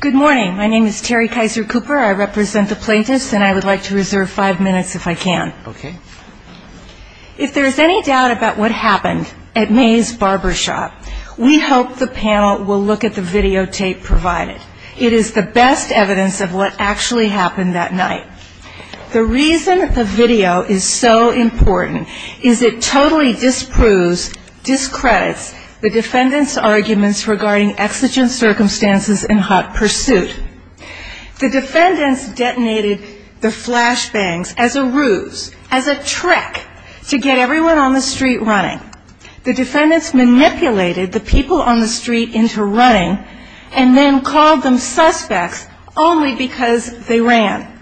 Good morning. My name is Terry Kaiser Cooper. I represent the plaintiffs, and I would like to reserve five minutes if I can. If there is any doubt about what happened at May's barbershop, we hope the panel will look at the videotape provided. It is the best evidence of what actually happened that night. The reason the video is so important is it totally disproves, discredits the defendant's arguments regarding exigent circumstances and hot pursuit. The defendants detonated the flashbangs as a ruse, as a trick to get everyone on the street running. The defendants manipulated the people on the street into running and then called them suspects only because they ran.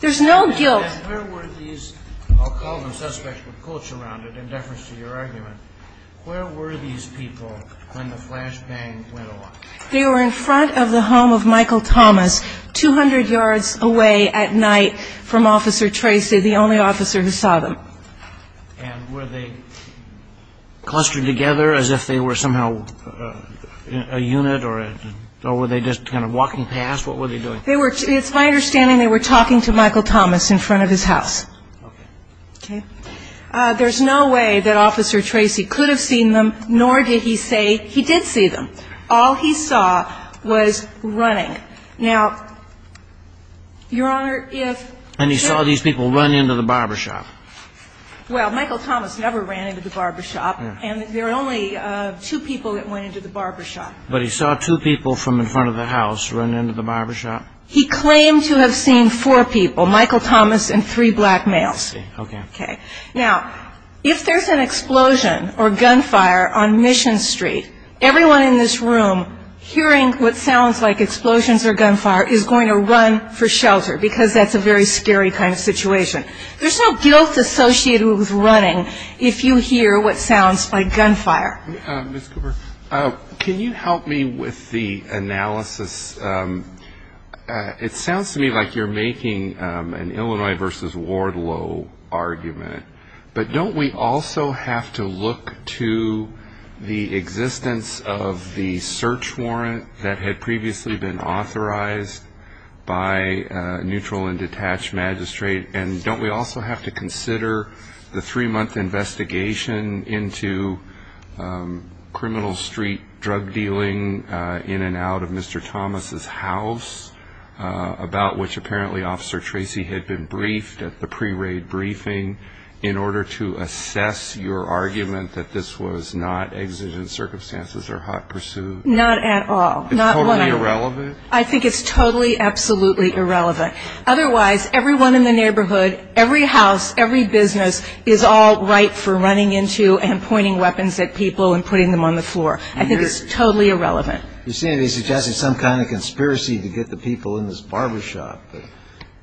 There's no guilt. And where were these, I'll call them suspects with quotes around it in deference to your argument, where were these people when the flashbang went off? They were in front of the home of Michael Thomas, 200 yards away at night from Officer Tracy, the only officer who saw them. And were they clustered together as if they were somehow a unit, or were they just kind of walking past? What were they doing? They were, it's my understanding they were talking to Michael Thomas in front of his house. Okay. Okay. There's no way that Officer Tracy could have seen them, nor did he say he did see them. All he saw was running. Now, Your Honor, if... And he saw these people run into the barbershop. Well, Michael Thomas never ran into the barbershop, and there were only two people that went into the barbershop. But he saw two people from in front of the house run into the barbershop? He claimed to have seen four people, Michael Thomas and three black males. Okay. Okay. Now, if there's an explosion or gunfire on Mission Street, everyone in this room hearing what sounds like explosions or gunfire is going to run for shelter because that's a very scary kind of situation. There's no guilt associated with running if you hear what sounds like gunfire. Ms. Cooper, can you help me with the analysis? It sounds to me like you're making an Illinois v. Wardlow argument, but don't we also have to look to the existence of the search warrant that had previously been authorized by a neutral and detached magistrate, and don't we also have to consider the three-month investigation into criminal street drug dealing in and out of Mr. Thomas' house, about which apparently Officer Tracy had been briefed at the pre-raid briefing, in order to assess your argument that this was not exigent circumstances or hot pursuit? Not at all. Totally irrelevant? I think it's totally, absolutely irrelevant. Otherwise, everyone in the neighborhood, every house, every business is all ripe for running into and pointing weapons at people and putting them on the floor. I think it's totally irrelevant. You seem to be suggesting some kind of conspiracy to get the people in this barbershop.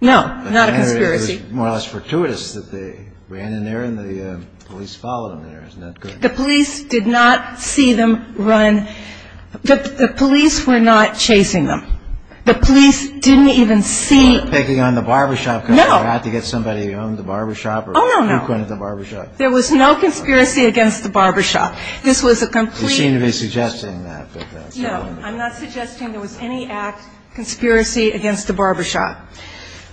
No, not a conspiracy. It was more or less fortuitous that they ran in there and the police followed them there. Isn't that good? The police did not see them run. The police were not chasing them. The police didn't even see. Picking on the barbershop. No. They had to get somebody to own the barbershop. Oh, no, no. There was no conspiracy against the barbershop. This was a complete. You seem to be suggesting that. No, I'm not suggesting there was any act, conspiracy against the barbershop.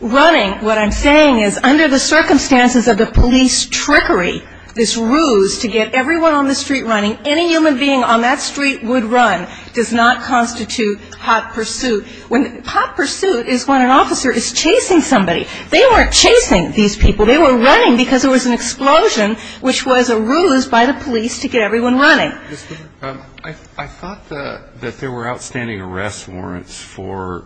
Running, what I'm saying is, under the circumstances of the police trickery, this ruse to get everyone on the street running, any human being on that street would run, does not constitute hot pursuit. Hot pursuit is when an officer is chasing somebody. They weren't chasing these people. They were running because there was an explosion, which was a ruse by the police to get everyone running. I thought that there were outstanding arrest warrants for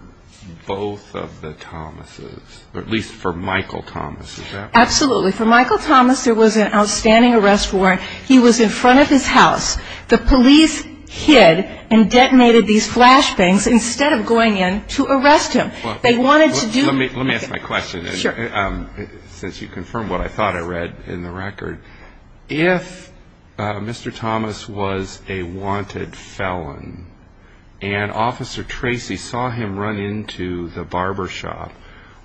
both of the Thomases, or at least for Michael Thomas. Is that right? Absolutely. For Michael Thomas, there was an outstanding arrest warrant. He was in front of his house. The police hid and detonated these flashbangs instead of going in to arrest him. They wanted to do. Let me ask my question. Sure. Since you confirmed what I thought I read in the record, if Mr. Thomas was a wanted felon and Officer Tracy saw him run into the barbershop,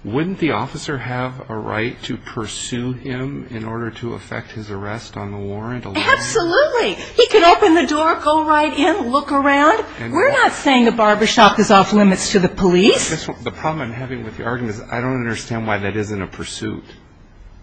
wouldn't the officer have a right to pursue him in order to effect his arrest on the warrant? Absolutely. He could open the door, go right in, look around. We're not saying the barbershop is off limits to the police. The problem I'm having with your argument is I don't understand why that isn't a pursuit.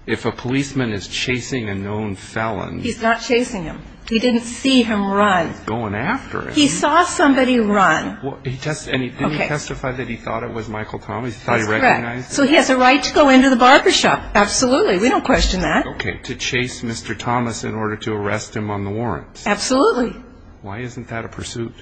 If a policeman is chasing a known felon. He's not chasing him. He didn't see him run. He's going after him. He saw somebody run. Didn't he testify that he thought it was Michael Thomas? That's correct. So he has a right to go into the barbershop. Absolutely. We don't question that. Okay, to chase Mr. Thomas in order to arrest him on the warrants. Absolutely. Why isn't that a pursuit?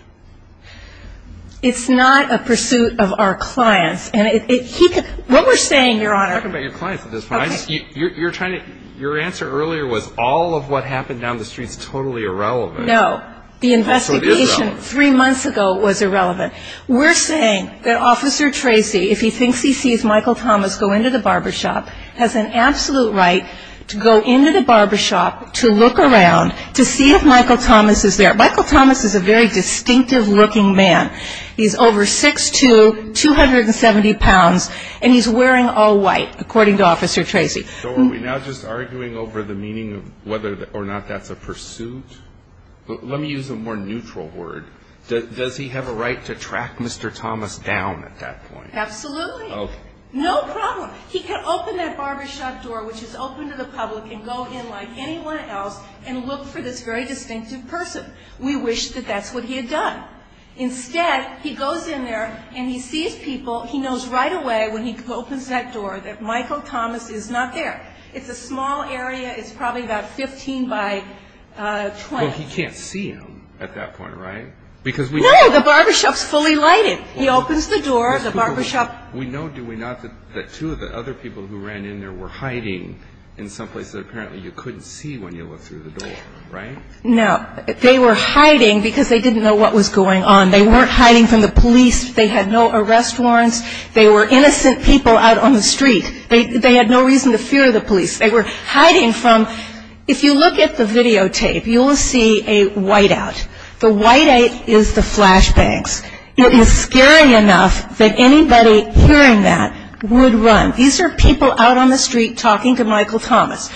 It's not a pursuit of our clients. What we're saying, Your Honor. I'm talking about your clients at this point. Your answer earlier was all of what happened down the street is totally irrelevant. No. The investigation three months ago was irrelevant. We're saying that Officer Tracy, if he thinks he sees Michael Thomas go into the barbershop, has an absolute right to go into the barbershop to look around to see if Michael Thomas is there. Michael Thomas is a very distinctive-looking man. He's over 6'2", 270 pounds, and he's wearing all white, according to Officer Tracy. So are we now just arguing over the meaning of whether or not that's a pursuit? Let me use a more neutral word. Does he have a right to track Mr. Thomas down at that point? Absolutely. Okay. No problem. He can open that barbershop door, which is open to the public, and go in like anyone else and look for this very distinctive person. We wish that that's what he had done. Instead, he goes in there and he sees people. He knows right away when he opens that door that Michael Thomas is not there. It's a small area. It's probably about 15 by 20. Well, he can't see him at that point, right? No, the barbershop's fully lighted. He opens the door. We know, do we not, that two of the other people who ran in there were hiding in some places that apparently you couldn't see when you looked through the door, right? No. They were hiding because they didn't know what was going on. They weren't hiding from the police. They had no arrest warrants. They were innocent people out on the street. They had no reason to fear the police. They were hiding from – if you look at the videotape, you'll see a whiteout. The whiteout is the flash banks. It is scary enough that anybody hearing that would run. These are people out on the street talking to Michael Thomas.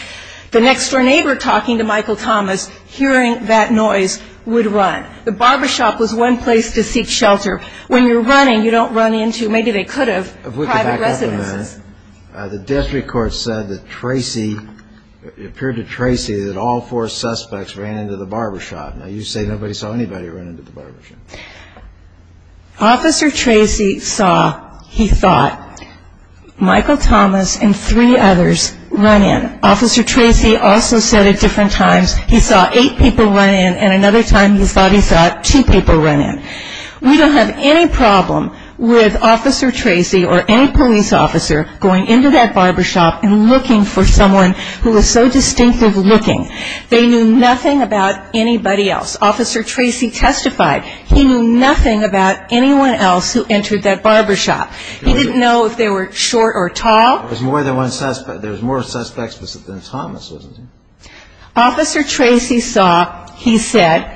The next-door neighbor talking to Michael Thomas, hearing that noise, would run. The barbershop was one place to seek shelter. When you're running, you don't run into – maybe they could have – private residences. If we could back up a minute. The district court said that Tracy – it appeared to Tracy that all four suspects ran into the barbershop. Now, you say nobody saw anybody run into the barbershop. Officer Tracy saw, he thought, Michael Thomas and three others run in. Officer Tracy also said at different times he saw eight people run in, and another time he thought he saw two people run in. We don't have any problem with Officer Tracy or any police officer going into that barbershop and looking for someone who was so distinctive looking. They knew nothing about anybody else. Officer Tracy testified. He knew nothing about anyone else who entered that barbershop. He didn't know if they were short or tall. There was more suspects than Thomas, wasn't there? Officer Tracy saw, he said,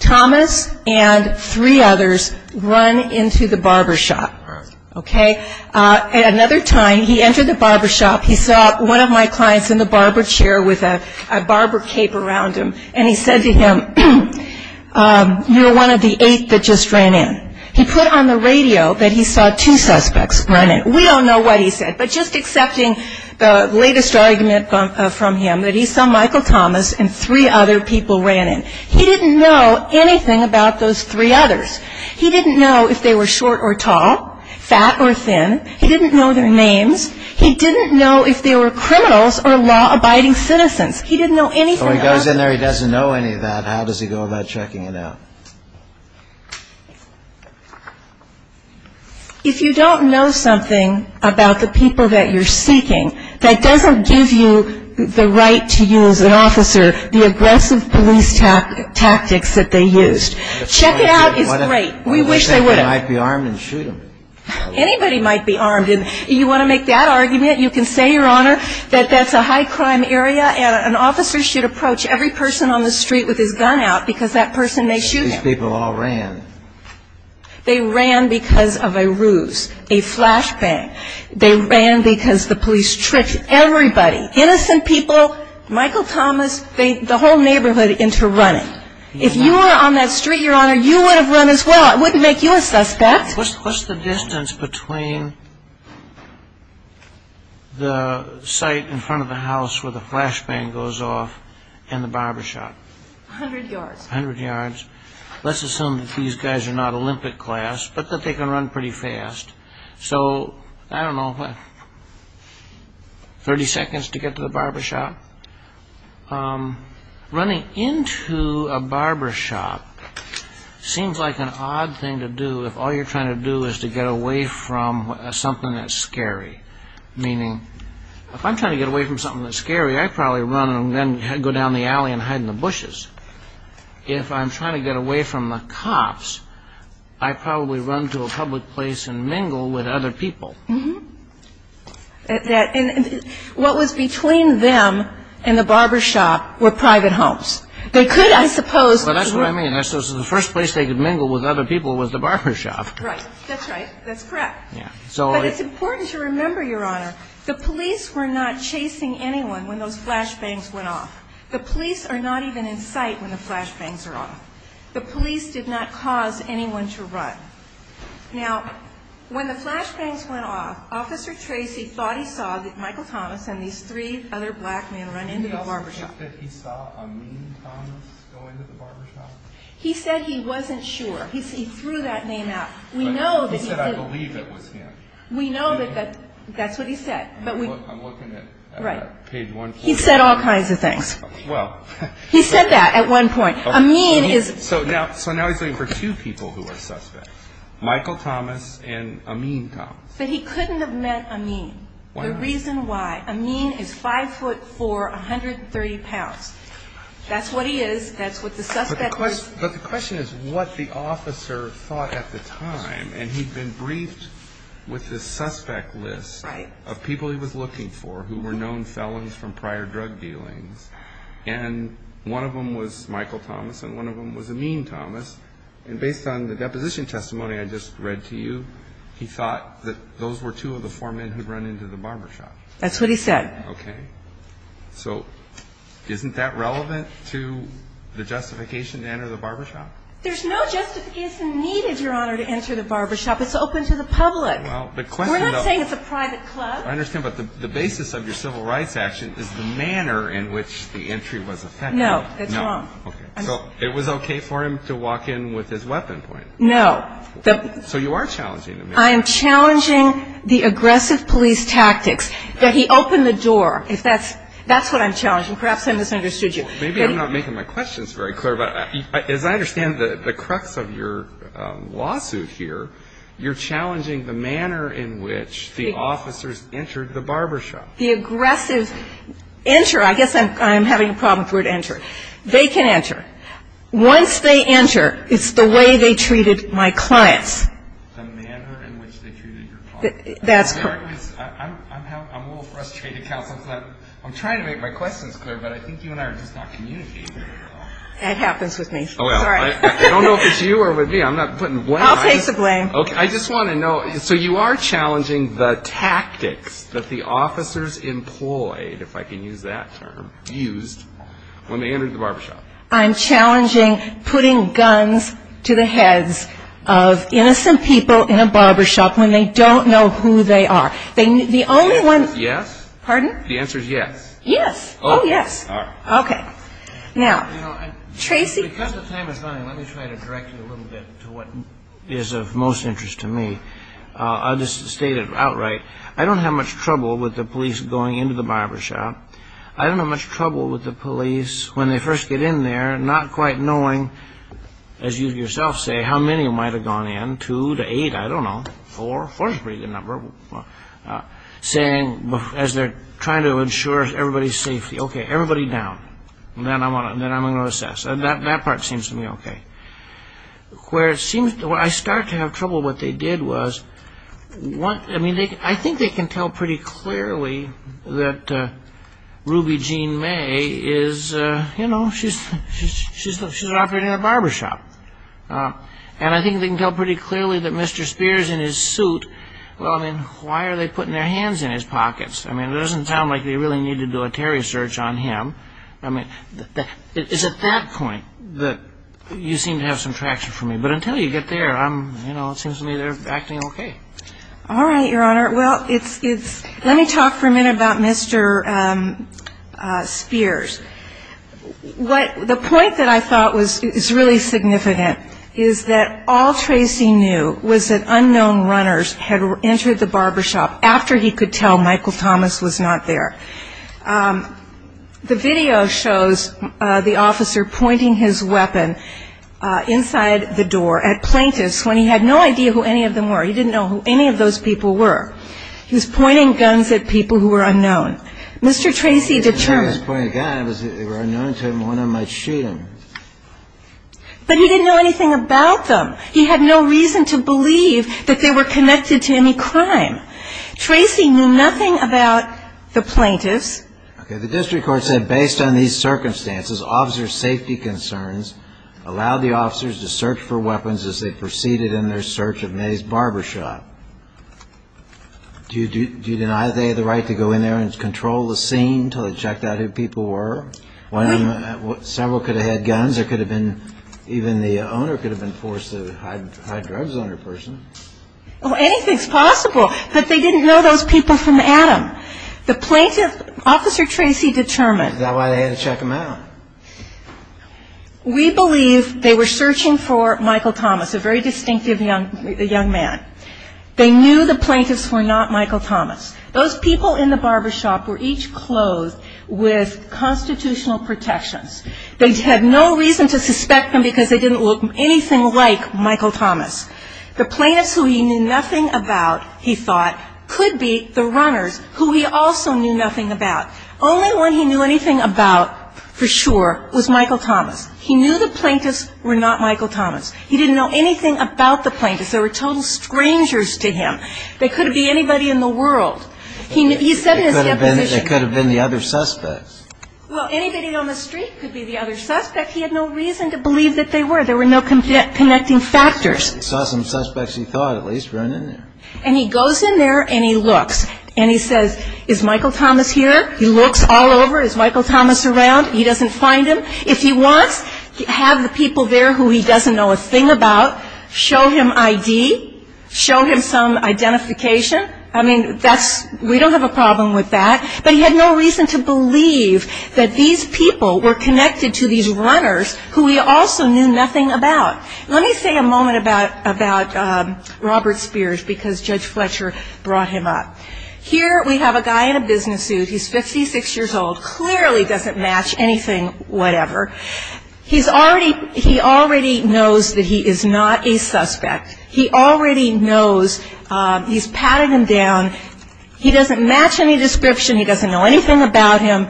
Thomas and three others run into the barbershop. All right. Okay? At another time, he entered the barbershop. He saw one of my clients in the barber chair with a barber cape around him, and he said to him, you're one of the eight that just ran in. He put on the radio that he saw two suspects run in. We don't know what he said, but just accepting the latest argument from him, that he saw Michael Thomas and three other people ran in. He didn't know anything about those three others. He didn't know if they were short or tall, fat or thin. He didn't know their names. He didn't know if they were criminals or law-abiding citizens. He didn't know anything about them. So he goes in there, he doesn't know any of that. How does he go about checking it out? If you don't know something about the people that you're seeking, that doesn't give you the right to use an officer, the aggressive police tactics that they used. Check it out is great. We wish they would have. I wish they might be armed and shoot them. Anybody might be armed. You want to make that argument, you can say, Your Honor, that that's a high-crime area and an officer should approach every person on the street with his gun out because that person may shoot him. These people all ran. They ran because of a ruse, a flashbang. They ran because the police tricked everybody, innocent people, Michael Thomas, the whole neighborhood into running. If you were on that street, Your Honor, you would have run as well. It wouldn't make you a suspect. What's the distance between the site in front of the house where the flashbang goes off and the barbershop? A hundred yards. A hundred yards. Let's assume that these guys are not Olympic class but that they can run pretty fast. So, I don't know, what, 30 seconds to get to the barbershop? Running into a barbershop seems like an odd thing to do if all you're trying to do is to get away from something that's scary. Meaning, if I'm trying to get away from something that's scary, I'd probably run and then go down the alley and hide in the bushes. If I'm trying to get away from the cops, I'd probably run to a public place and mingle with other people. What was between them and the barbershop were private homes. They could, I suppose. Well, that's what I mean. The first place they could mingle with other people was the barbershop. Right. That's right. That's correct. But it's important to remember, Your Honor, the police were not chasing anyone when those flashbangs went off. The police are not even in sight when the flashbangs are off. The police did not cause anyone to run. Now, when the flashbangs went off, Officer Tracy thought he saw Michael Thomas and these three other black men run into the barbershop. Did he also think that he saw Amin Thomas go into the barbershop? He said he wasn't sure. He threw that name out. He said, I believe it was him. We know that that's what he said. I'm looking at page 140. He said all kinds of things. He said that at one point. So now he's looking for two people who are suspects, Michael Thomas and Amin Thomas. But he couldn't have met Amin. Why not? The reason why. Amin is 5'4", 130 pounds. That's what he is. That's what the suspect is. But the question is what the officer thought at the time. And he'd been briefed with this suspect list of people he was looking for who were known felons from prior drug dealings. And one of them was Michael Thomas and one of them was Amin Thomas. And based on the deposition testimony I just read to you, he thought that those were two of the four men who'd run into the barbershop. That's what he said. Okay. So isn't that relevant to the justification to enter the barbershop? There's no justification needed, Your Honor, to enter the barbershop. It's open to the public. We're not saying it's a private club. I understand, but the basis of your civil rights action is the manner in which the entry was effected. No, that's wrong. Okay. So it was okay for him to walk in with his weapon pointed? No. So you are challenging Amin. I am challenging the aggressive police tactics that he opened the door. That's what I'm challenging. Perhaps I misunderstood you. Maybe I'm not making my questions very clear, but as I understand the crux of your lawsuit here, you're challenging the manner in which the officers entered the barbershop. The aggressive enter. I guess I'm having a problem with the word enter. They can enter. Once they enter, it's the way they treated my clients. The manner in which they treated your clients. That's correct. I'm a little frustrated, Counsel Clinton. I'm trying to make my questions clear, but I think you and I are just not communicating very well. That happens with me. I don't know if it's you or with me. I'm not putting the blame on you. I'll take the blame. I just want to know, so you are challenging the tactics that the officers employed, if I can use that term, used when they entered the barbershop. I'm challenging putting guns to the heads of innocent people in a barbershop when they don't know who they are. The only one. Yes. Pardon? The answer is yes. Yes. Oh, yes. All right. Okay. Now, Tracy. Because the time is running, let me try to direct you a little bit to what is of most interest to me. I'll just state it outright. I don't have much trouble with the police going into the barbershop. I don't have much trouble with the police, when they first get in there, not quite knowing, as you yourself say, how many might have gone in, two to eight, I don't know, four. Four is a pretty good number. Saying, as they're trying to ensure everybody's safety, okay, everybody down. Then I'm going to assess. That part seems to me okay. Where I start to have trouble, what they did was, I think they can tell pretty clearly that Ruby Jean May is, you know, she's operating a barbershop. And I think they can tell pretty clearly that Mr. Spears in his suit, well, I mean, why are they putting their hands in his pockets? I mean, it doesn't sound like they really need to do a Terry search on him. I mean, it's at that point that you seem to have some traction for me. But until you get there, I'm, you know, it seems to me they're acting okay. All right, Your Honor. Well, let me talk for a minute about Mr. Spears. The point that I thought was really significant is that all Tracy knew was that unknown runners had entered the barbershop after he could tell Michael Thomas was not there. The video shows the officer pointing his weapon inside the door at plaintiffs when he had no idea who any of them were. He didn't know who any of those people were. He was pointing guns at people who were unknown. Mr. Tracy determined they were unknown to him, one of them might shoot him. But he didn't know anything about them. He had no reason to believe that they were connected to any crime. Tracy knew nothing about the plaintiffs. Okay. The district court said based on these circumstances, officer safety concerns, allow the officers to search for weapons as they proceeded in their search of May's Barbershop. Do you deny they had the right to go in there and control the scene until they checked out who people were? One of them, several could have had guns. There could have been, even the owner could have been forced to hide drugs on her person. Well, anything's possible. But they didn't know those people from Adam. The plaintiff, officer Tracy determined. Is that why they had to check him out? We believe they were searching for Michael Thomas, a very distinctive young man. They knew the plaintiffs were not Michael Thomas. Those people in the barbershop were each clothed with constitutional protections. They had no reason to suspect them because they didn't look anything like Michael Thomas. The plaintiffs who he knew nothing about, he thought, could be the runners who he also knew nothing about. Only one he knew anything about for sure was Michael Thomas. He knew the plaintiffs were not Michael Thomas. He didn't know anything about the plaintiffs. They were total strangers to him. They could have been anybody in the world. He said in his deposition. They could have been the other suspects. Well, anybody on the street could be the other suspect. He had no reason to believe that they were. There were no connecting factors. He saw some suspects he thought at least were in there. And he goes in there and he looks. And he says, is Michael Thomas here? He looks all over. Is Michael Thomas around? He doesn't find him. If he wants, have the people there who he doesn't know a thing about show him ID, show him some identification. I mean, that's we don't have a problem with that. But he had no reason to believe that these people were connected to these runners who he also knew nothing about. Let me say a moment about Robert Spears because Judge Fletcher brought him up. Here we have a guy in a business suit. He's 56 years old. Clearly doesn't match anything whatever. He already knows that he is not a suspect. He already knows. He's patting him down. He doesn't match any description. He doesn't know anything about him.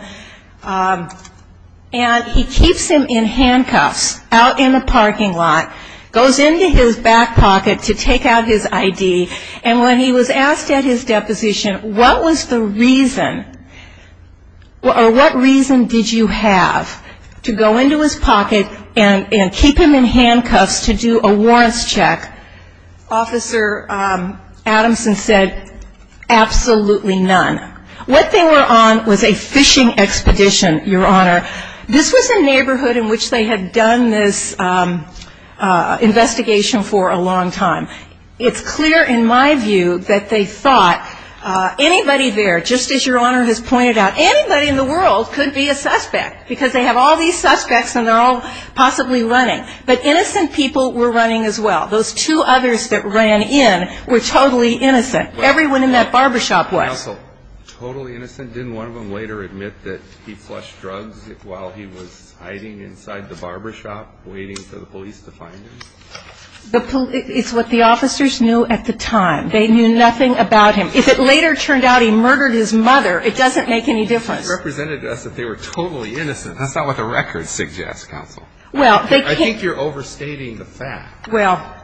And he keeps him in handcuffs out in the parking lot, goes into his back pocket to take out his ID. And when he was asked at his deposition what was the reason or what reason did you have to go into his pocket and keep him in handcuffs to do a warrants check, Officer Adamson said, absolutely none. What they were on was a fishing expedition, Your Honor. This was a neighborhood in which they had done this investigation for a long time. It's clear in my view that they thought anybody there, just as Your Honor has pointed out, anybody in the world could be a suspect because they have all these suspects and they're all possibly running. But innocent people were running as well. Those two others that ran in were totally innocent. Everyone in that barbershop was. Counsel, totally innocent? Didn't one of them later admit that he flushed drugs while he was hiding inside the barbershop waiting for the police to find him? It's what the officers knew at the time. They knew nothing about him. If it later turned out he murdered his mother, it doesn't make any difference. It represented to us that they were totally innocent. That's not what the records suggest, Counsel. I think you're overstating the fact. Well,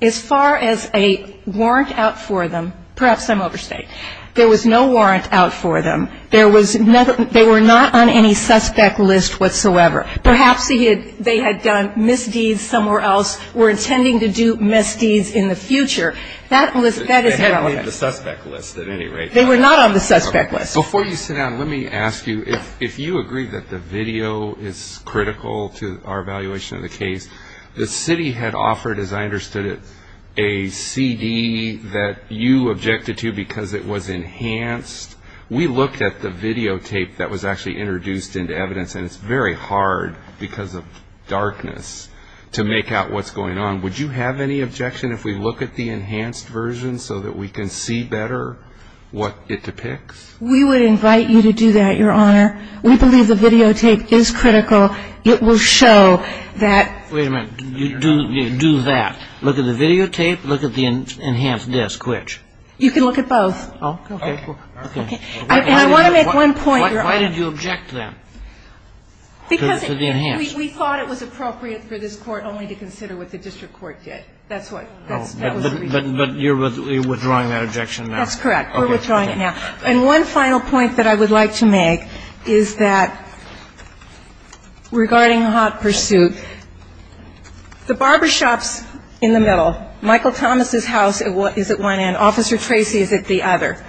as far as a warrant out for them, perhaps I'm overstating. There was no warrant out for them. They were not on any suspect list whatsoever. Perhaps they had done misdeeds somewhere else, were intending to do misdeeds in the future. That is relevant. They hadn't been on the suspect list at any rate. They were not on the suspect list. Before you sit down, let me ask you, if you agree that the video is critical to our evaluation of the case, the city had offered, as I understood it, a CD that you objected to because it was enhanced. We looked at the videotape that was actually introduced into evidence, and it's very hard because of darkness to make out what's going on. Would you have any objection if we look at the enhanced version so that we can see better what it depicts? We would invite you to do that, Your Honor. We believe the videotape is critical. It will show that ---- Wait a minute. Do that. Look at the videotape, look at the enhanced disc, which? You can look at both. Okay. Okay. And I want to make one point, Your Honor. Why did you object to that? Because we thought it was appropriate for this Court only to consider what the district court did. That's what we did. But you're withdrawing that objection now. That's correct. We're withdrawing it now. And one final point that I would like to make is that regarding hot pursuit, the barbershop's in the middle, Michael Thomas' house is at one end, Officer Tracy is at the other.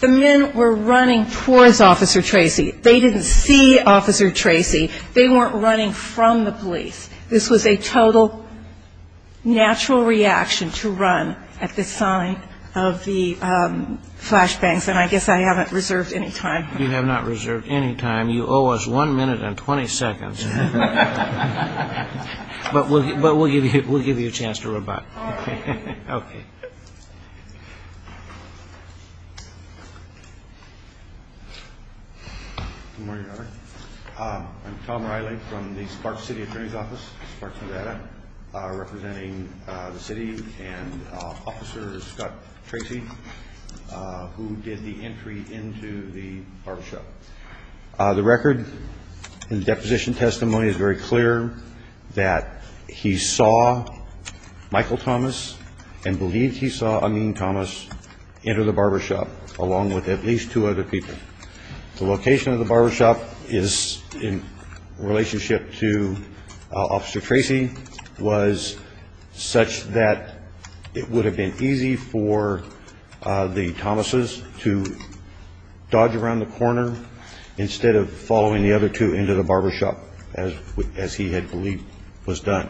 The men were running towards Officer Tracy. They didn't see Officer Tracy. They weren't running from the police. This was a total natural reaction to run at the sight of the flashbangs. And I guess I haven't reserved any time. You have not reserved any time. You owe us one minute and 20 seconds. But we'll give you a chance to rebut. Okay. Okay. Good morning, Your Honor. I'm Tom Riley from the Sparks City Attorney's Office, Sparks Nevada, representing the city and Officer Scott Tracy, who did the entry into the barbershop. The record in the deposition testimony is very clear that he saw Michael Thomas and believed he saw Amin Thomas enter the barbershop along with at least two other people. The location of the barbershop in relationship to Officer Tracy was such that it would have been easy for the Thomas' to dodge around the corner instead of following the other two into the barbershop, as he had believed was done.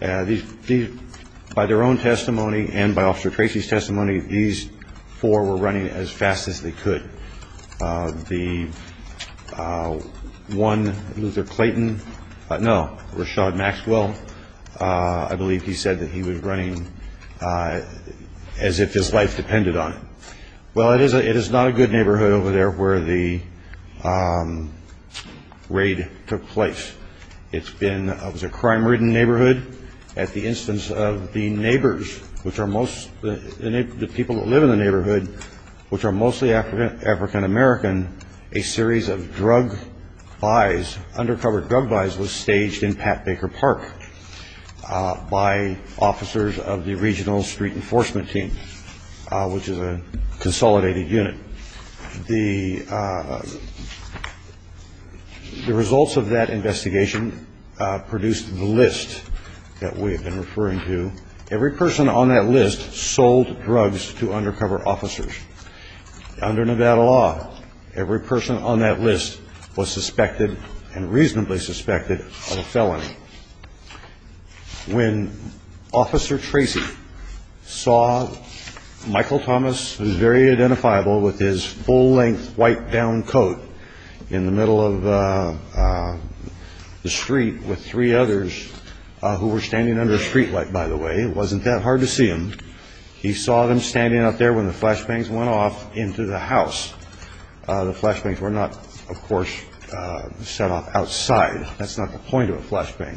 By their own testimony and by Officer Tracy's testimony, these four were running as fast as they could. The one, Luther Clayton, no, Rashad Maxwell, I believe he said that he was running as if his life depended on it. Well, it is not a good neighborhood over there where the raid took place. It's been a crime-ridden neighborhood. At the instance of the neighbors, the people that live in the neighborhood, which are mostly African American, a series of drug buys, undercover drug buys, was staged in Pat Baker Park by officers of the regional street enforcement team, which is a consolidated unit. The results of that investigation produced the list that we have been referring to. Every person on that list sold drugs to undercover officers. Under Nevada law, every person on that list was suspected and reasonably suspected of a felony. When Officer Tracy saw Michael Thomas, who is very identifiable with his full-length, white-down coat in the middle of the street with three others who were standing under a streetlight, by the way, it wasn't that hard to see him. He saw them standing up there when the flashbangs went off into the house. The flashbangs were not, of course, set off outside. That's not the point of a flashbang.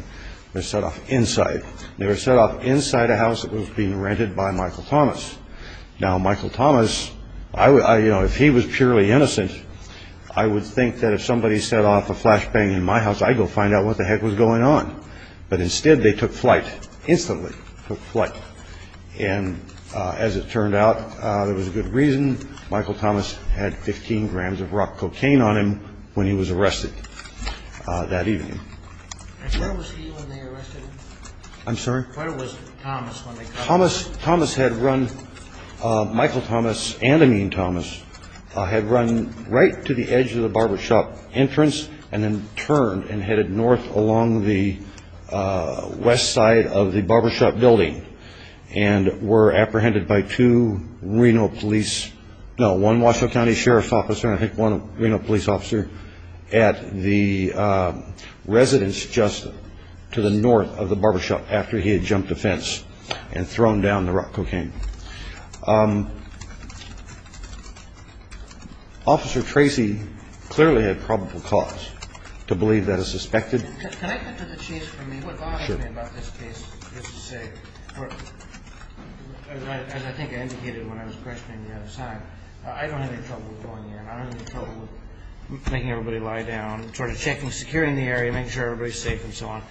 They're set off inside. They were set off inside a house that was being rented by Michael Thomas. Now, Michael Thomas, if he was purely innocent, I would think that if somebody set off a flashbang in my house, I'd go find out what the heck was going on. But instead, they took flight, instantly took flight. And as it turned out, there was a good reason. Michael Thomas had 15 grams of rock cocaine on him when he was arrested that evening. And where was he when they arrested him? I'm sorry? Where was Thomas when they caught him? Thomas had run, Michael Thomas and Amin Thomas, had run right to the edge of the barbershop entrance and then turned and headed north along the west side of the barbershop building and were apprehended by two Reno police, no, one Washoe County Sheriff's officer and I think one Reno police officer at the residence just to the north of the barbershop after he had jumped the fence and thrown down the rock cocaine. Officer Tracy clearly had probable cause to believe that is suspected. Can I get to the chase for me? What bothers me about this case, just to say, as I think I indicated when I was questioning the other side, I don't have any trouble going in. I don't have any trouble with making everybody lie down, sort of checking, securing the area, making sure everybody's safe and so on.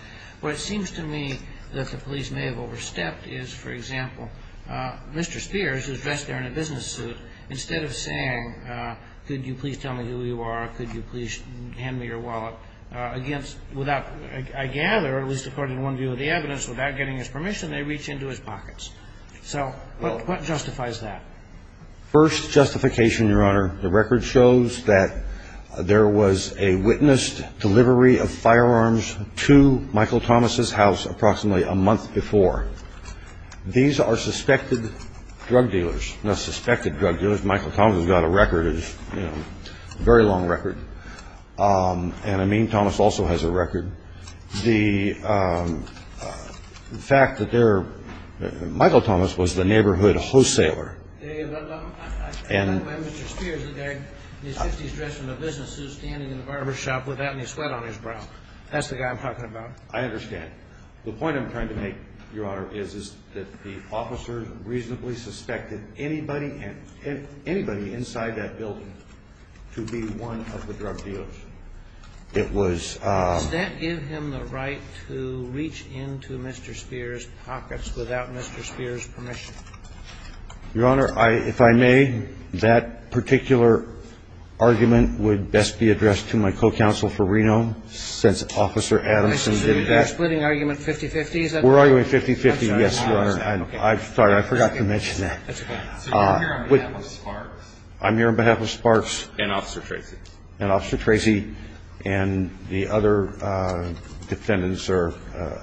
What seems to me that the police may have overstepped is, for example, Mr. Spears is dressed there in a business suit. Instead of saying, could you please tell me who you are, could you please hand me your wallet, against, without, I gather, at least according to one view of the evidence, without getting his permission, they reach into his pockets. So what justifies that? First justification, Your Honor, the record shows that there was a witnessed delivery of firearms to Michael Thomas' house approximately a month before. These are suspected drug dealers. Michael Thomas has got a record, a very long record. And Amin Thomas also has a record. The fact that they're ñ Michael Thomas was the neighborhood wholesaler. I find that Mr. Spears is dressed in a business suit, standing in the barbershop without any sweat on his brow. That's the guy I'm talking about. I understand. The point I'm trying to make, Your Honor, is that the officer reasonably suspected anybody inside that building to be one of the drug dealers. It was ñ Does that give him the right to reach into Mr. Spears' pockets without Mr. Spears' permission? Your Honor, if I may, that particular argument would best be addressed to my co-counsel for Reno, since Officer Adamson did that. We're splitting argument 50-50, is that right? We're arguing 50-50, yes, Your Honor. I'm sorry. I forgot to mention that. That's okay. So you're here on behalf of Sparks? I'm here on behalf of Sparks. And Officer Tracy. And Officer Tracy and the other defendants or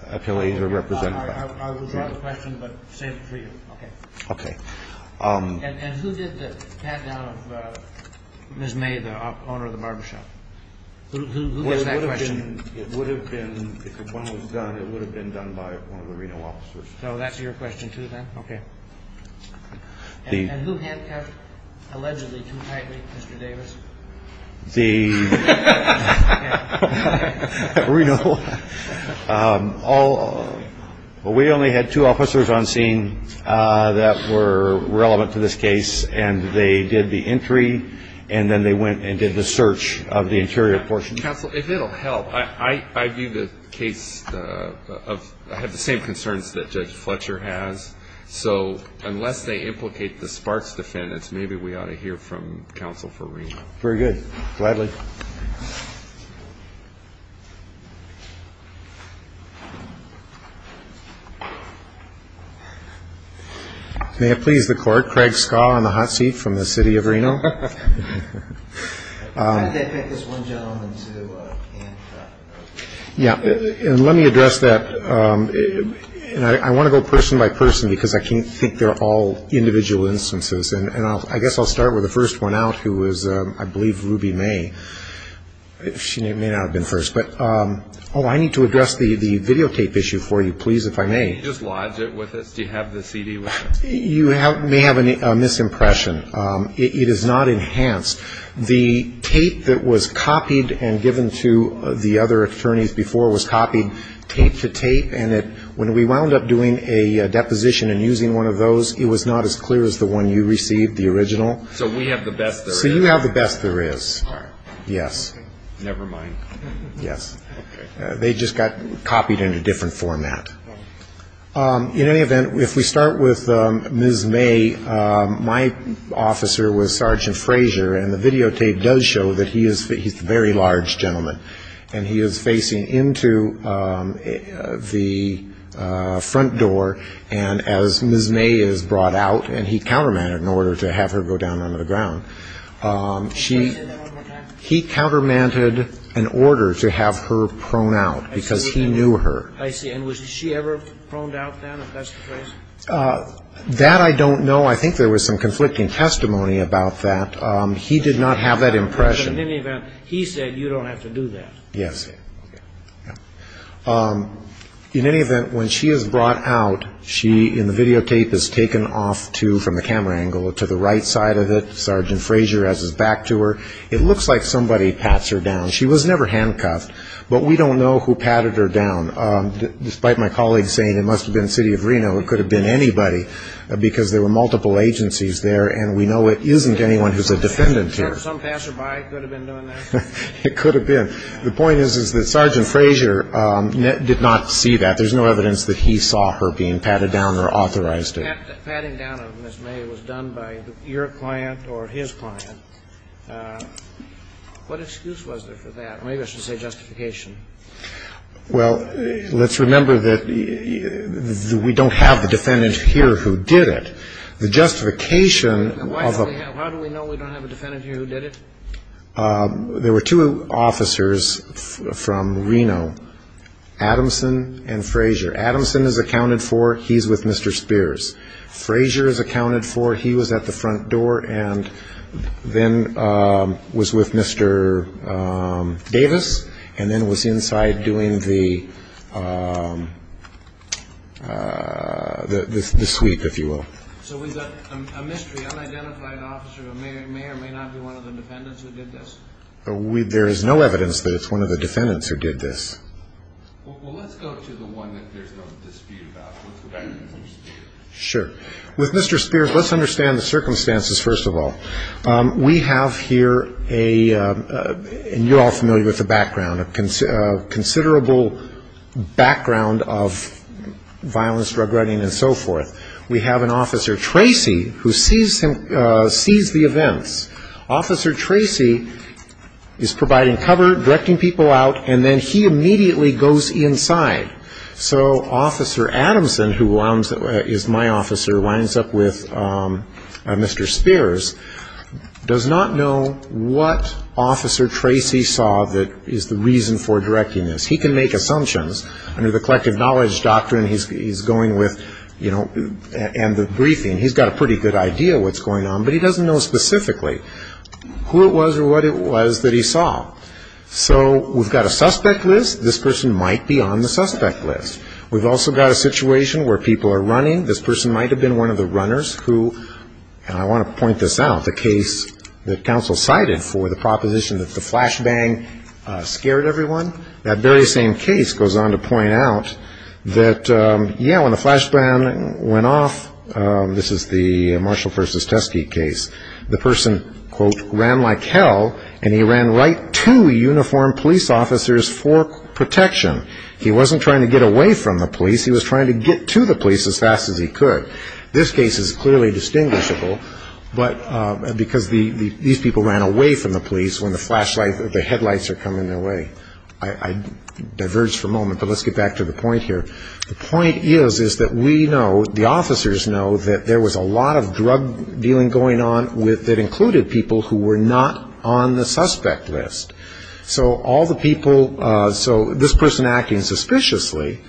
appellees are represented by me. I'll withdraw the question, but save it for you. Okay. Okay. And who did the pat-down of Ms. May, the owner of the barbershop? Who asked that question? It would have been ñ if one was done, it would have been done by one of the Reno officers. So that's your question, too, then? Okay. And who handcuffed, allegedly, too tightly, Mr. Davis? The ñ Okay. Okay. At Reno, all ñ well, we only had two officers on scene that were relevant to this case, and they did the entry, and then they went and did the search of the interior portion. Counsel, if it'll help, I view the case of ñ I have the same concerns that Judge Fletcher has. So unless they implicate the Sparks defendants, maybe we ought to hear from counsel for Reno. Very good. Gladly. May it please the Court. Craig Skaw in the hot seat from the city of Reno. How did they pick this one gentleman to handcuff? Yeah. And let me address that. And I want to go person by person because I can't think they're all individual instances. And I guess I'll start with the first one out, who was, I believe, Ruby May. She may not have been first. But ñ oh, I need to address the videotape issue for you, please, if I may. Can you just lodge it with us? Do you have the CD with you? You may have a misimpression. It is not enhanced. The tape that was copied and given to the other attorneys before was copied tape to tape, and when we wound up doing a deposition and using one of those, it was not as clear as the one you received, the original. So we have the best there is? So you have the best there is. All right. Yes. Never mind. Yes. Okay. They just got copied in a different format. In any event, if we start with Ms. May, my officer was Sergeant Frazier, and the videotape does show that he is a very large gentleman. And he is facing into the front door. And as Ms. May is brought out, and he countermanded in order to have her go down onto the ground, she ñ Can you say that one more time? He countermanded in order to have her prone out, because he knew her. I see. And was she ever proned out then, if that's the phrase? That I don't know. I think there was some conflicting testimony about that. He did not have that impression. But in any event, he said, you don't have to do that. Yes. Okay. In any event, when she is brought out, she, in the videotape, is taken off to, from the camera angle, to the right side of it. Sergeant Frazier has his back to her. It looks like somebody pats her down. She was never handcuffed, but we don't know who patted her down. Despite my colleague saying it must have been City of Reno, it could have been anybody, because there were multiple agencies there, and we know it isn't anyone who's a defendant here. So some passerby could have been doing that? It could have been. The point is, is that Sergeant Frazier did not see that. There's no evidence that he saw her being patted down or authorized it. Patting down of Ms. May was done by your client or his client. What excuse was there for that? Maybe I should say justification. Well, let's remember that we don't have the defendant here who did it. The justification of a ---- There were two officers from Reno, Adamson and Frazier. Adamson is accounted for. He's with Mr. Spears. Frazier is accounted for. He was at the front door and then was with Mr. Davis and then was inside doing the sweep, if you will. So we've got a mystery, unidentified officer. It may or may not be one of the defendants who did this? There is no evidence that it's one of the defendants who did this. Well, let's go to the one that there's no dispute about, with Mr. Spears. Sure. With Mr. Spears, let's understand the circumstances, first of all. We have here a ---- and you're all familiar with the background, a considerable background of violence, drug writing and so forth. We have an officer, Tracy, who sees the events. Officer Tracy is providing cover, directing people out, and then he immediately goes inside. So Officer Adamson, who is my officer, winds up with Mr. Spears, does not know what Officer Tracy saw that is the reason for directing this. He can make assumptions. Under the collective knowledge doctrine he's going with, you know, and the briefing, he's got a pretty good idea what's going on, but he doesn't know specifically who it was or what it was that he saw. So we've got a suspect list. This person might be on the suspect list. We've also got a situation where people are running. This person might have been one of the runners who, and I want to point this out, the case that counsel cited for the proposition that the flashbang scared everyone, that very same case goes on to point out that, yeah, when the flashbang went off, this is the Marshall v. Teske case, the person, quote, ran like hell and he ran right to uniformed police officers for protection. He wasn't trying to get away from the police. He was trying to get to the police as fast as he could. This case is clearly distinguishable because these people ran away from the police when the flashlights or the headlights are coming their way. I diverged for a moment, but let's get back to the point here. The point is, is that we know, the officers know, that there was a lot of drug dealing going on that included people who were not on the suspect list. So all the people, so this person acting suspiciously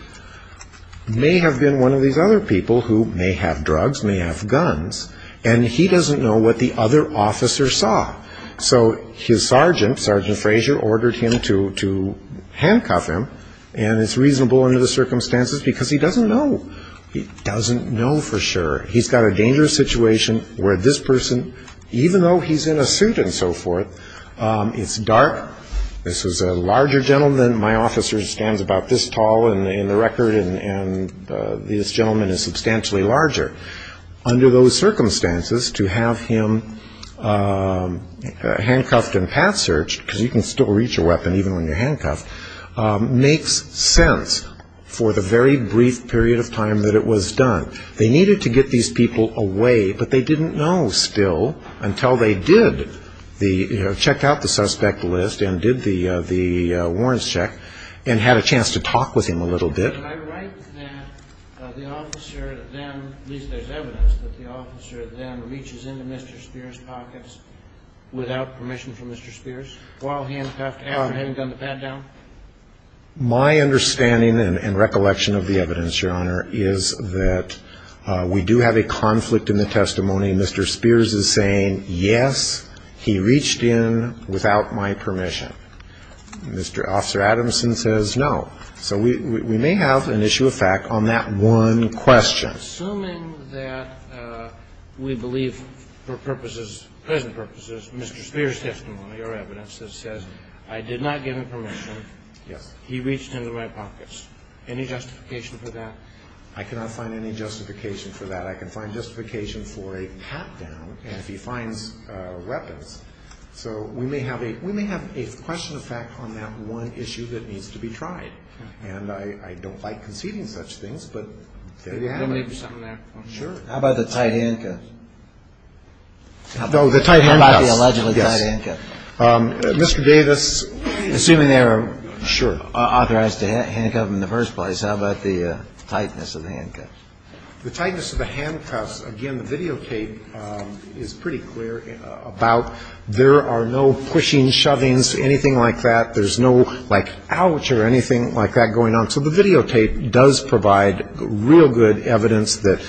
may have been one of these other people who may have drugs, may have guns, and he doesn't know what the other officer saw. So his sergeant, Sergeant Frazier, ordered him to handcuff him, and it's reasonable under the circumstances because he doesn't know. He doesn't know for sure. He's got a dangerous situation where this person, even though he's in a suit and so forth, it's dark. This is a larger gentleman. My officer stands about this tall in the record, and this gentleman is substantially larger. Under those circumstances, to have him handcuffed and path-searched, because you can still reach a weapon even when you're handcuffed, makes sense for the very brief period of time that it was done. They needed to get these people away, but they didn't know still, until they did check out the suspect list and did the warrants check and had a chance to talk with him a little bit. Can I write that the officer then, at least there's evidence, that the officer then reaches into Mr. Spears' pockets without permission from Mr. Spears while handcuffed, after having done the pat-down? My understanding and recollection of the evidence, Your Honor, is that we do have a conflict in the testimony. Mr. Spears is saying, yes, he reached in without my permission. Mr. Officer Adamson says, no. So we may have an issue of fact on that one question. Assuming that we believe for purposes, present purposes, Mr. Spears' testimony, your evidence that says, I did not give him permission. Yes. He reached into my pockets. Any justification for that? I cannot find any justification for that. I can find justification for a pat-down, and if he finds weapons. So we may have a question of fact on that one issue that needs to be tried, and I don't like conceding such things, but there you have it. Can I make a comment on that? Sure. How about the tight handcuffs? No, the tight handcuffs. How about the allegedly tight handcuffs? Mr. Davis, assuming they were authorized to handcuff him in the first place, how about the tightness of the handcuffs? The tightness of the handcuffs, again, the videotape is pretty clear about there are no pushing, shovings, anything like that. There's no, like, ouch or anything like that going on. So the videotape does provide real good evidence that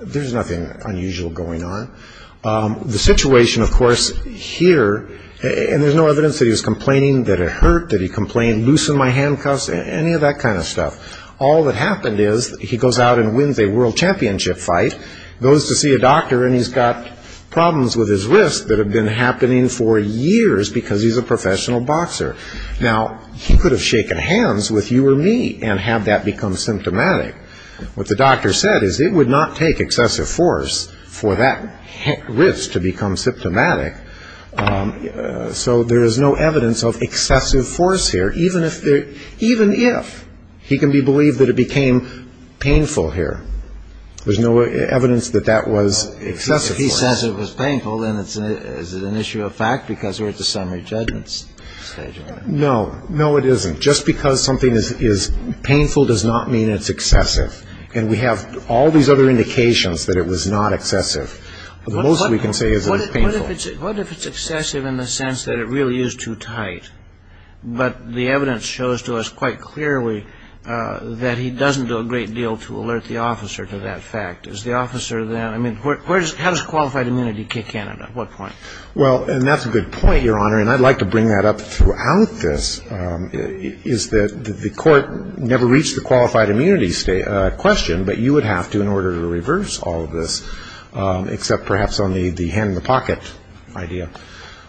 there's nothing unusual going on. The situation, of course, here, and there's no evidence that he was complaining that it hurt, that he complained, loosen my handcuffs, any of that kind of stuff. All that happened is he goes out and wins a world championship fight, goes to see a doctor, and he's got problems with his wrist that have been happening for years because he's a professional boxer. Now, he could have shaken hands with you or me and have that become symptomatic. What the doctor said is it would not take excessive force for that wrist to become symptomatic. So there is no evidence of excessive force here, even if he can be believed that it became painful here. There's no evidence that that was excessive force. If he says it was painful, then is it an issue of fact because we're at the summary judgment stage? No. No, it isn't. Just because something is painful does not mean it's excessive. And we have all these other indications that it was not excessive. The most we can say is it was painful. What if it's excessive in the sense that it really is too tight, but the evidence shows to us quite clearly that he doesn't do a great deal to alert the officer to that fact? How does qualified immunity kick in at what point? Well, and that's a good point, Your Honor, and I'd like to bring that up throughout this, is that the court never reached the qualified immunity question, but you would have to in order to reverse all of this, except perhaps on the hand-in-the-pocket idea.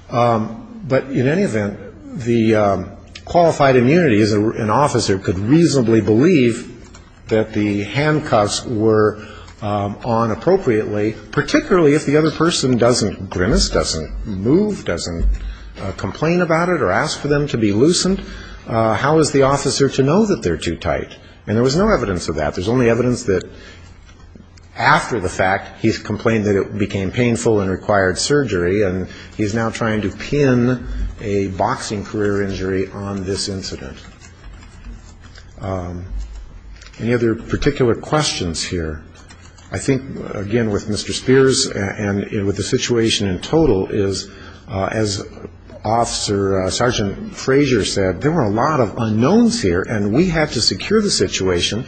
But in any event, the qualified immunity, an officer could reasonably believe that the handcuffs were on appropriately, particularly if the other person doesn't grimace, doesn't move, doesn't complain about it or ask for them to be loosened. How is the officer to know that they're too tight? And there was no evidence of that. There's only evidence that after the fact, he's complained that it became painful and required surgery, and he's now trying to pin a boxing career injury on this incident. Any other particular questions here? I think, again, with Mr. Spears and with the situation in total is, as Sergeant Frazier said, there were a lot of unknowns here, and we had to secure the situation,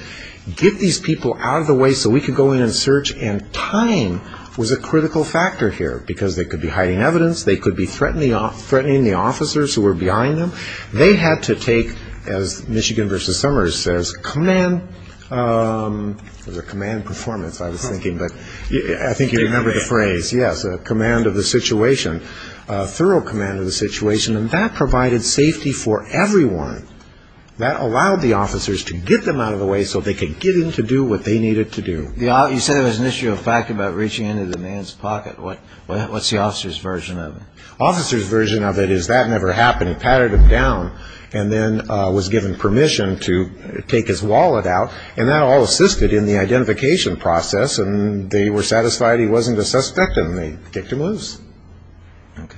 get these people out of the way so we could go in and search, and time was a critical factor here because they could be hiding evidence, they could be threatening the officers who were behind them. They had to take, as Michigan v. Summers says, command performance, I was thinking, but I think you remember the phrase. Yes, a command of the situation, a thorough command of the situation, and that provided safety for everyone. That allowed the officers to get them out of the way so they could get in to do what they needed to do. You said there was an issue of fact about reaching into the man's pocket. What's the officer's version of it? Officer's version of it is that never happened. He patted him down and then was given permission to take his wallet out, and that all assisted in the identification process, and they were satisfied he wasn't a suspect, and the victim was. Okay.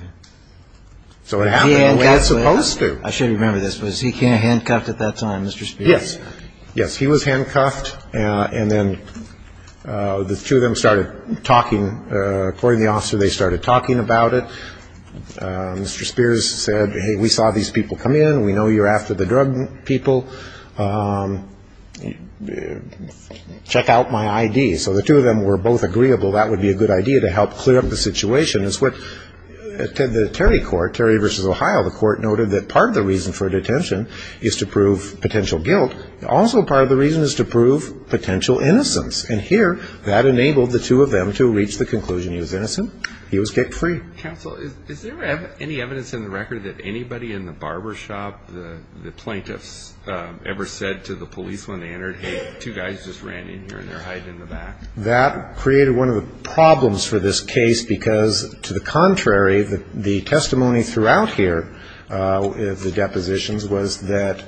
So it happened the way it's supposed to. I should remember this. Was he handcuffed at that time, Mr. Spears? Yes. Yes, he was handcuffed, and then the two of them started talking. According to the officer, they started talking about it. Mr. Spears said, hey, we saw these people come in. We know you're after the drug people. Check out my I.D. So the two of them were both agreeable that would be a good idea to help clear up the situation. The Terry Court, Terry v. Ohio, the court noted that part of the reason for detention is to prove potential guilt. Also part of the reason is to prove potential innocence, and here that enabled the two of them to reach the conclusion he was innocent. He was kicked free. Counsel, is there any evidence in the record that anybody in the barbershop, the plaintiffs ever said to the police when they entered, hey, two guys just ran in here and they're hiding in the back? That created one of the problems for this case because, to the contrary, the testimony throughout here, the depositions, was that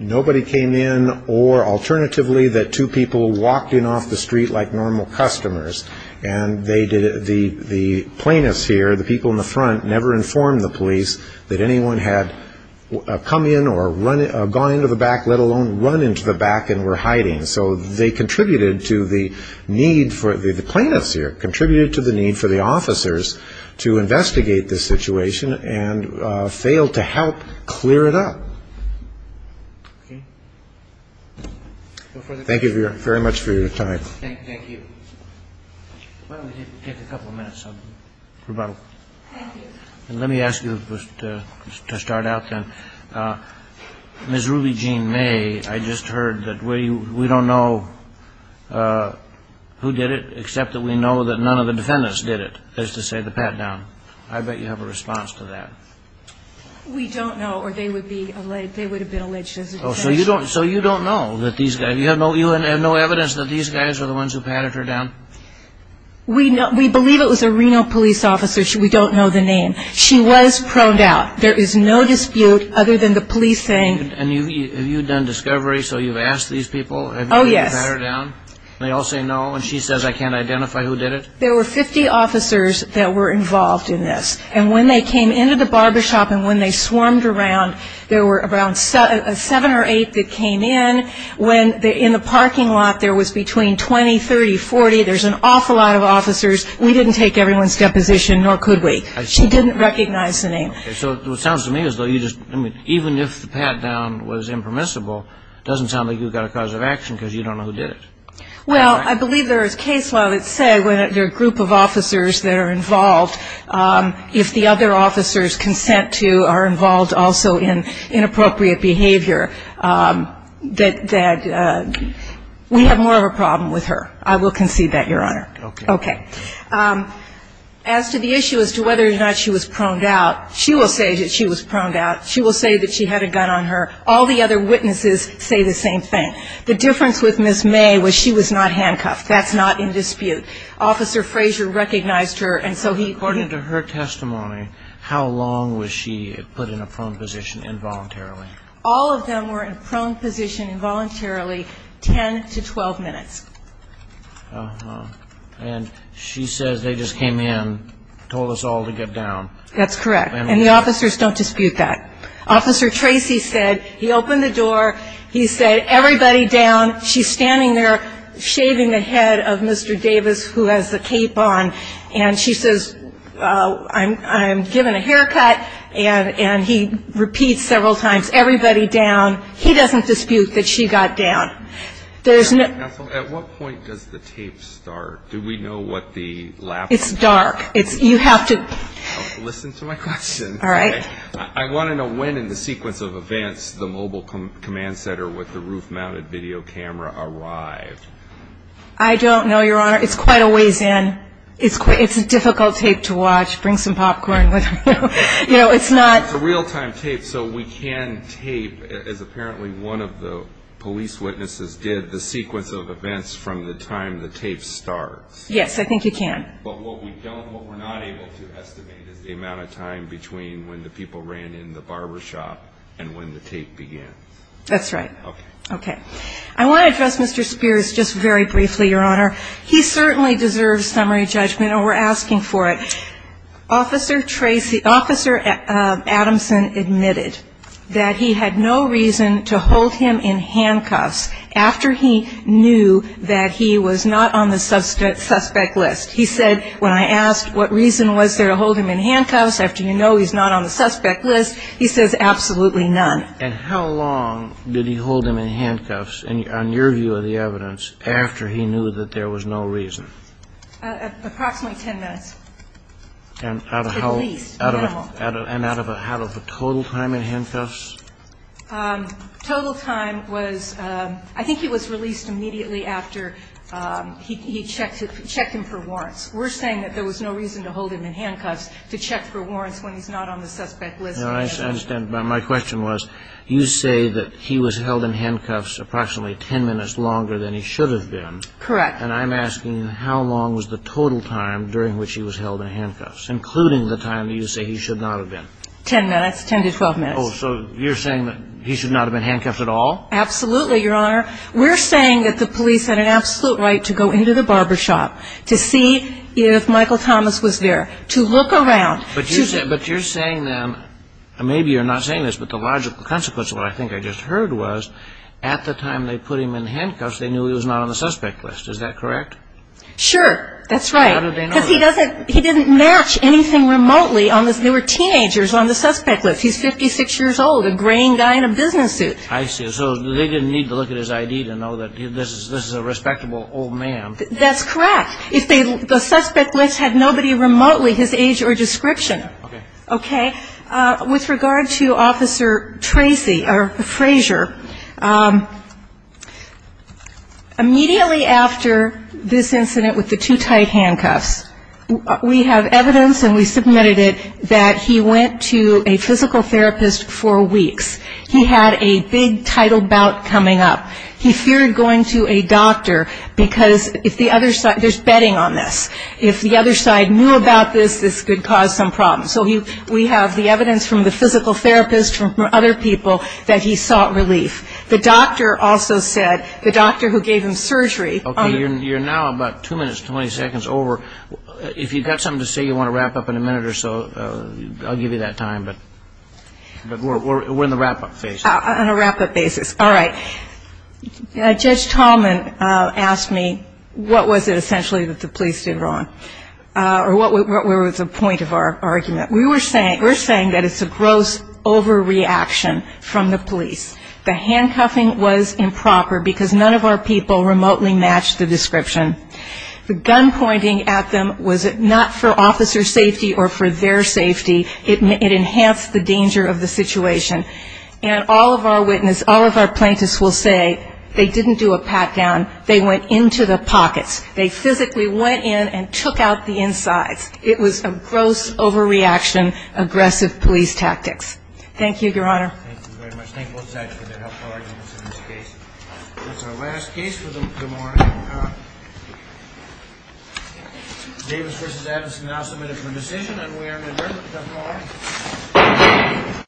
nobody came in or alternatively that two people walked in off the street like normal customers, and the plaintiffs here, the people in the front, never informed the police that anyone had come in or gone into the back, let alone run into the back and were hiding. So they contributed to the need for the plaintiffs here, contributed to the need for the officers to investigate the situation and failed to help clear it up. Thank you very much for your time. Thank you. Why don't we take a couple of minutes of rebuttal. Thank you. Let me ask you to start out then. Ms. Ruby Jean May, I just heard that we don't know who did it, except that we know that none of the defendants did it, is to say the pat-down. I bet you have a response to that. We don't know or they would have been alleged as a defendant. So you don't know that these guys, you have no evidence that these guys are the ones who patted her down? We believe it was a Reno police officer. We don't know the name. She was proned out. There is no dispute other than the police saying. And have you done discovery so you've asked these people? Oh, yes. Have you patted her down? They all say no and she says I can't identify who did it? There were 50 officers that were involved in this. And when they came into the barbershop and when they swarmed around, there were around seven or eight that came in. When in the parking lot there was between 20, 30, 40, there's an awful lot of officers. We didn't take everyone's deposition nor could we. She didn't recognize the name. Okay. So it sounds to me as though you just, I mean, even if the pat down was impermissible, it doesn't sound like you've got a cause of action because you don't know who did it. Well, I believe there is case law that say when a group of officers that are involved, if the other officers consent to are involved also in inappropriate behavior, that we have more of a problem with her. I will concede that, Your Honor. Okay. Okay. As to the issue as to whether or not she was proned out, she will say that she was proned out. She will say that she had a gun on her. All the other witnesses say the same thing. The difference with Ms. May was she was not handcuffed. That's not in dispute. Officer Frazier recognized her and so he According to her testimony, how long was she put in a prone position involuntarily? All of them were in a prone position involuntarily 10 to 12 minutes. Uh-huh. And she says they just came in, told us all to get down. That's correct. And the officers don't dispute that. Officer Tracy said he opened the door, he said, everybody down. She's standing there shaving the head of Mr. Davis, who has the cape on, and she says, I'm given a haircut, and he repeats several times, everybody down. He doesn't dispute that she got down. Counsel, at what point does the tape start? Do we know what the lapse is? It's dark. You have to Listen to my question. All right. I want to know when in the sequence of events the mobile command center with the roof-mounted video camera arrived. I don't know, Your Honor. It's quite a ways in. It's a difficult tape to watch. Bring some popcorn with you. You know, it's not It's a real-time tape, so we can tape, as apparently one of the police witnesses did, the sequence of events from the time the tape starts. Yes, I think you can. But what we're not able to estimate is the amount of time between when the people ran in the barbershop and when the tape began. That's right. Okay. Okay. I want to address Mr. Spears just very briefly, Your Honor. He certainly deserves summary judgment, and we're asking for it. Officer Tracy, Officer Adamson admitted that he had no reason to hold him in handcuffs after he knew that he was not on the suspect list. He said, when I asked what reason was there to hold him in handcuffs, after you know he's not on the suspect list, he says, absolutely none. And how long did he hold him in handcuffs, on your view of the evidence, after he knew that there was no reason? Approximately 10 minutes. At least. Minimal. And out of a total time in handcuffs? Total time was, I think he was released immediately after he checked him for warrants. We're saying that there was no reason to hold him in handcuffs to check for warrants when he's not on the suspect list. No, I understand. But my question was, you say that he was held in handcuffs approximately 10 minutes longer than he should have been. Correct. And I'm asking, how long was the total time during which he was held in handcuffs, including the time that you say he should not have been? 10 minutes, 10 to 12 minutes. Oh, so you're saying that he should not have been handcuffed at all? Absolutely, Your Honor. We're saying that the police had an absolute right to go into the barber shop to see if Michael Thomas was there, to look around. But you're saying then, maybe you're not saying this, but the logical consequence of what I think I just heard was, at the time they put him in handcuffs, they knew he was not on the suspect list. Is that correct? Sure. That's right. How did they know? Because he didn't match anything remotely. There were teenagers on the suspect list. He's 56 years old, a graying guy in a business suit. I see. So they didn't need to look at his ID to know that this is a respectable old man. That's correct. The suspect list had nobody remotely his age or description. Okay. With regard to Officer Tracy, or Frazier, immediately after this incident with the two tight handcuffs, we have evidence, and we submitted it, that he went to a physical therapist for weeks. He had a big tidal bout coming up. He feared going to a doctor, because if the other side ‑‑ there's betting on this. If the other side knew about this, this could cause some problems. So we have the evidence from the physical therapist, from other people, that he sought relief. The doctor also said, the doctor who gave him surgery ‑‑ Okay. You're now about two minutes, 20 seconds over. If you've got something to say, you want to wrap up in a minute or so, I'll give you that time. But we're in the wrap‑up phase. On a wrap‑up basis. All right. Judge Tallman asked me, what was it essentially that the police did wrong? Or what was the point of our argument? We were saying that it's a gross overreaction from the police. The handcuffing was improper, because none of our people remotely matched the description. The gun pointing at them was not for officer safety or for their safety. It enhanced the danger of the situation. And all of our witnesses, all of our plaintiffs will say, they didn't do a pat down. They went into the pockets. They physically went in and took out the insides. It was a gross overreaction, aggressive police tactics. Thank you, Your Honor. Thank you very much. Thank both sides for their helpful arguments in this case. That's our last case for the morning. Davis v. Addison now submitted for decision. And we are adjourned. Good morning.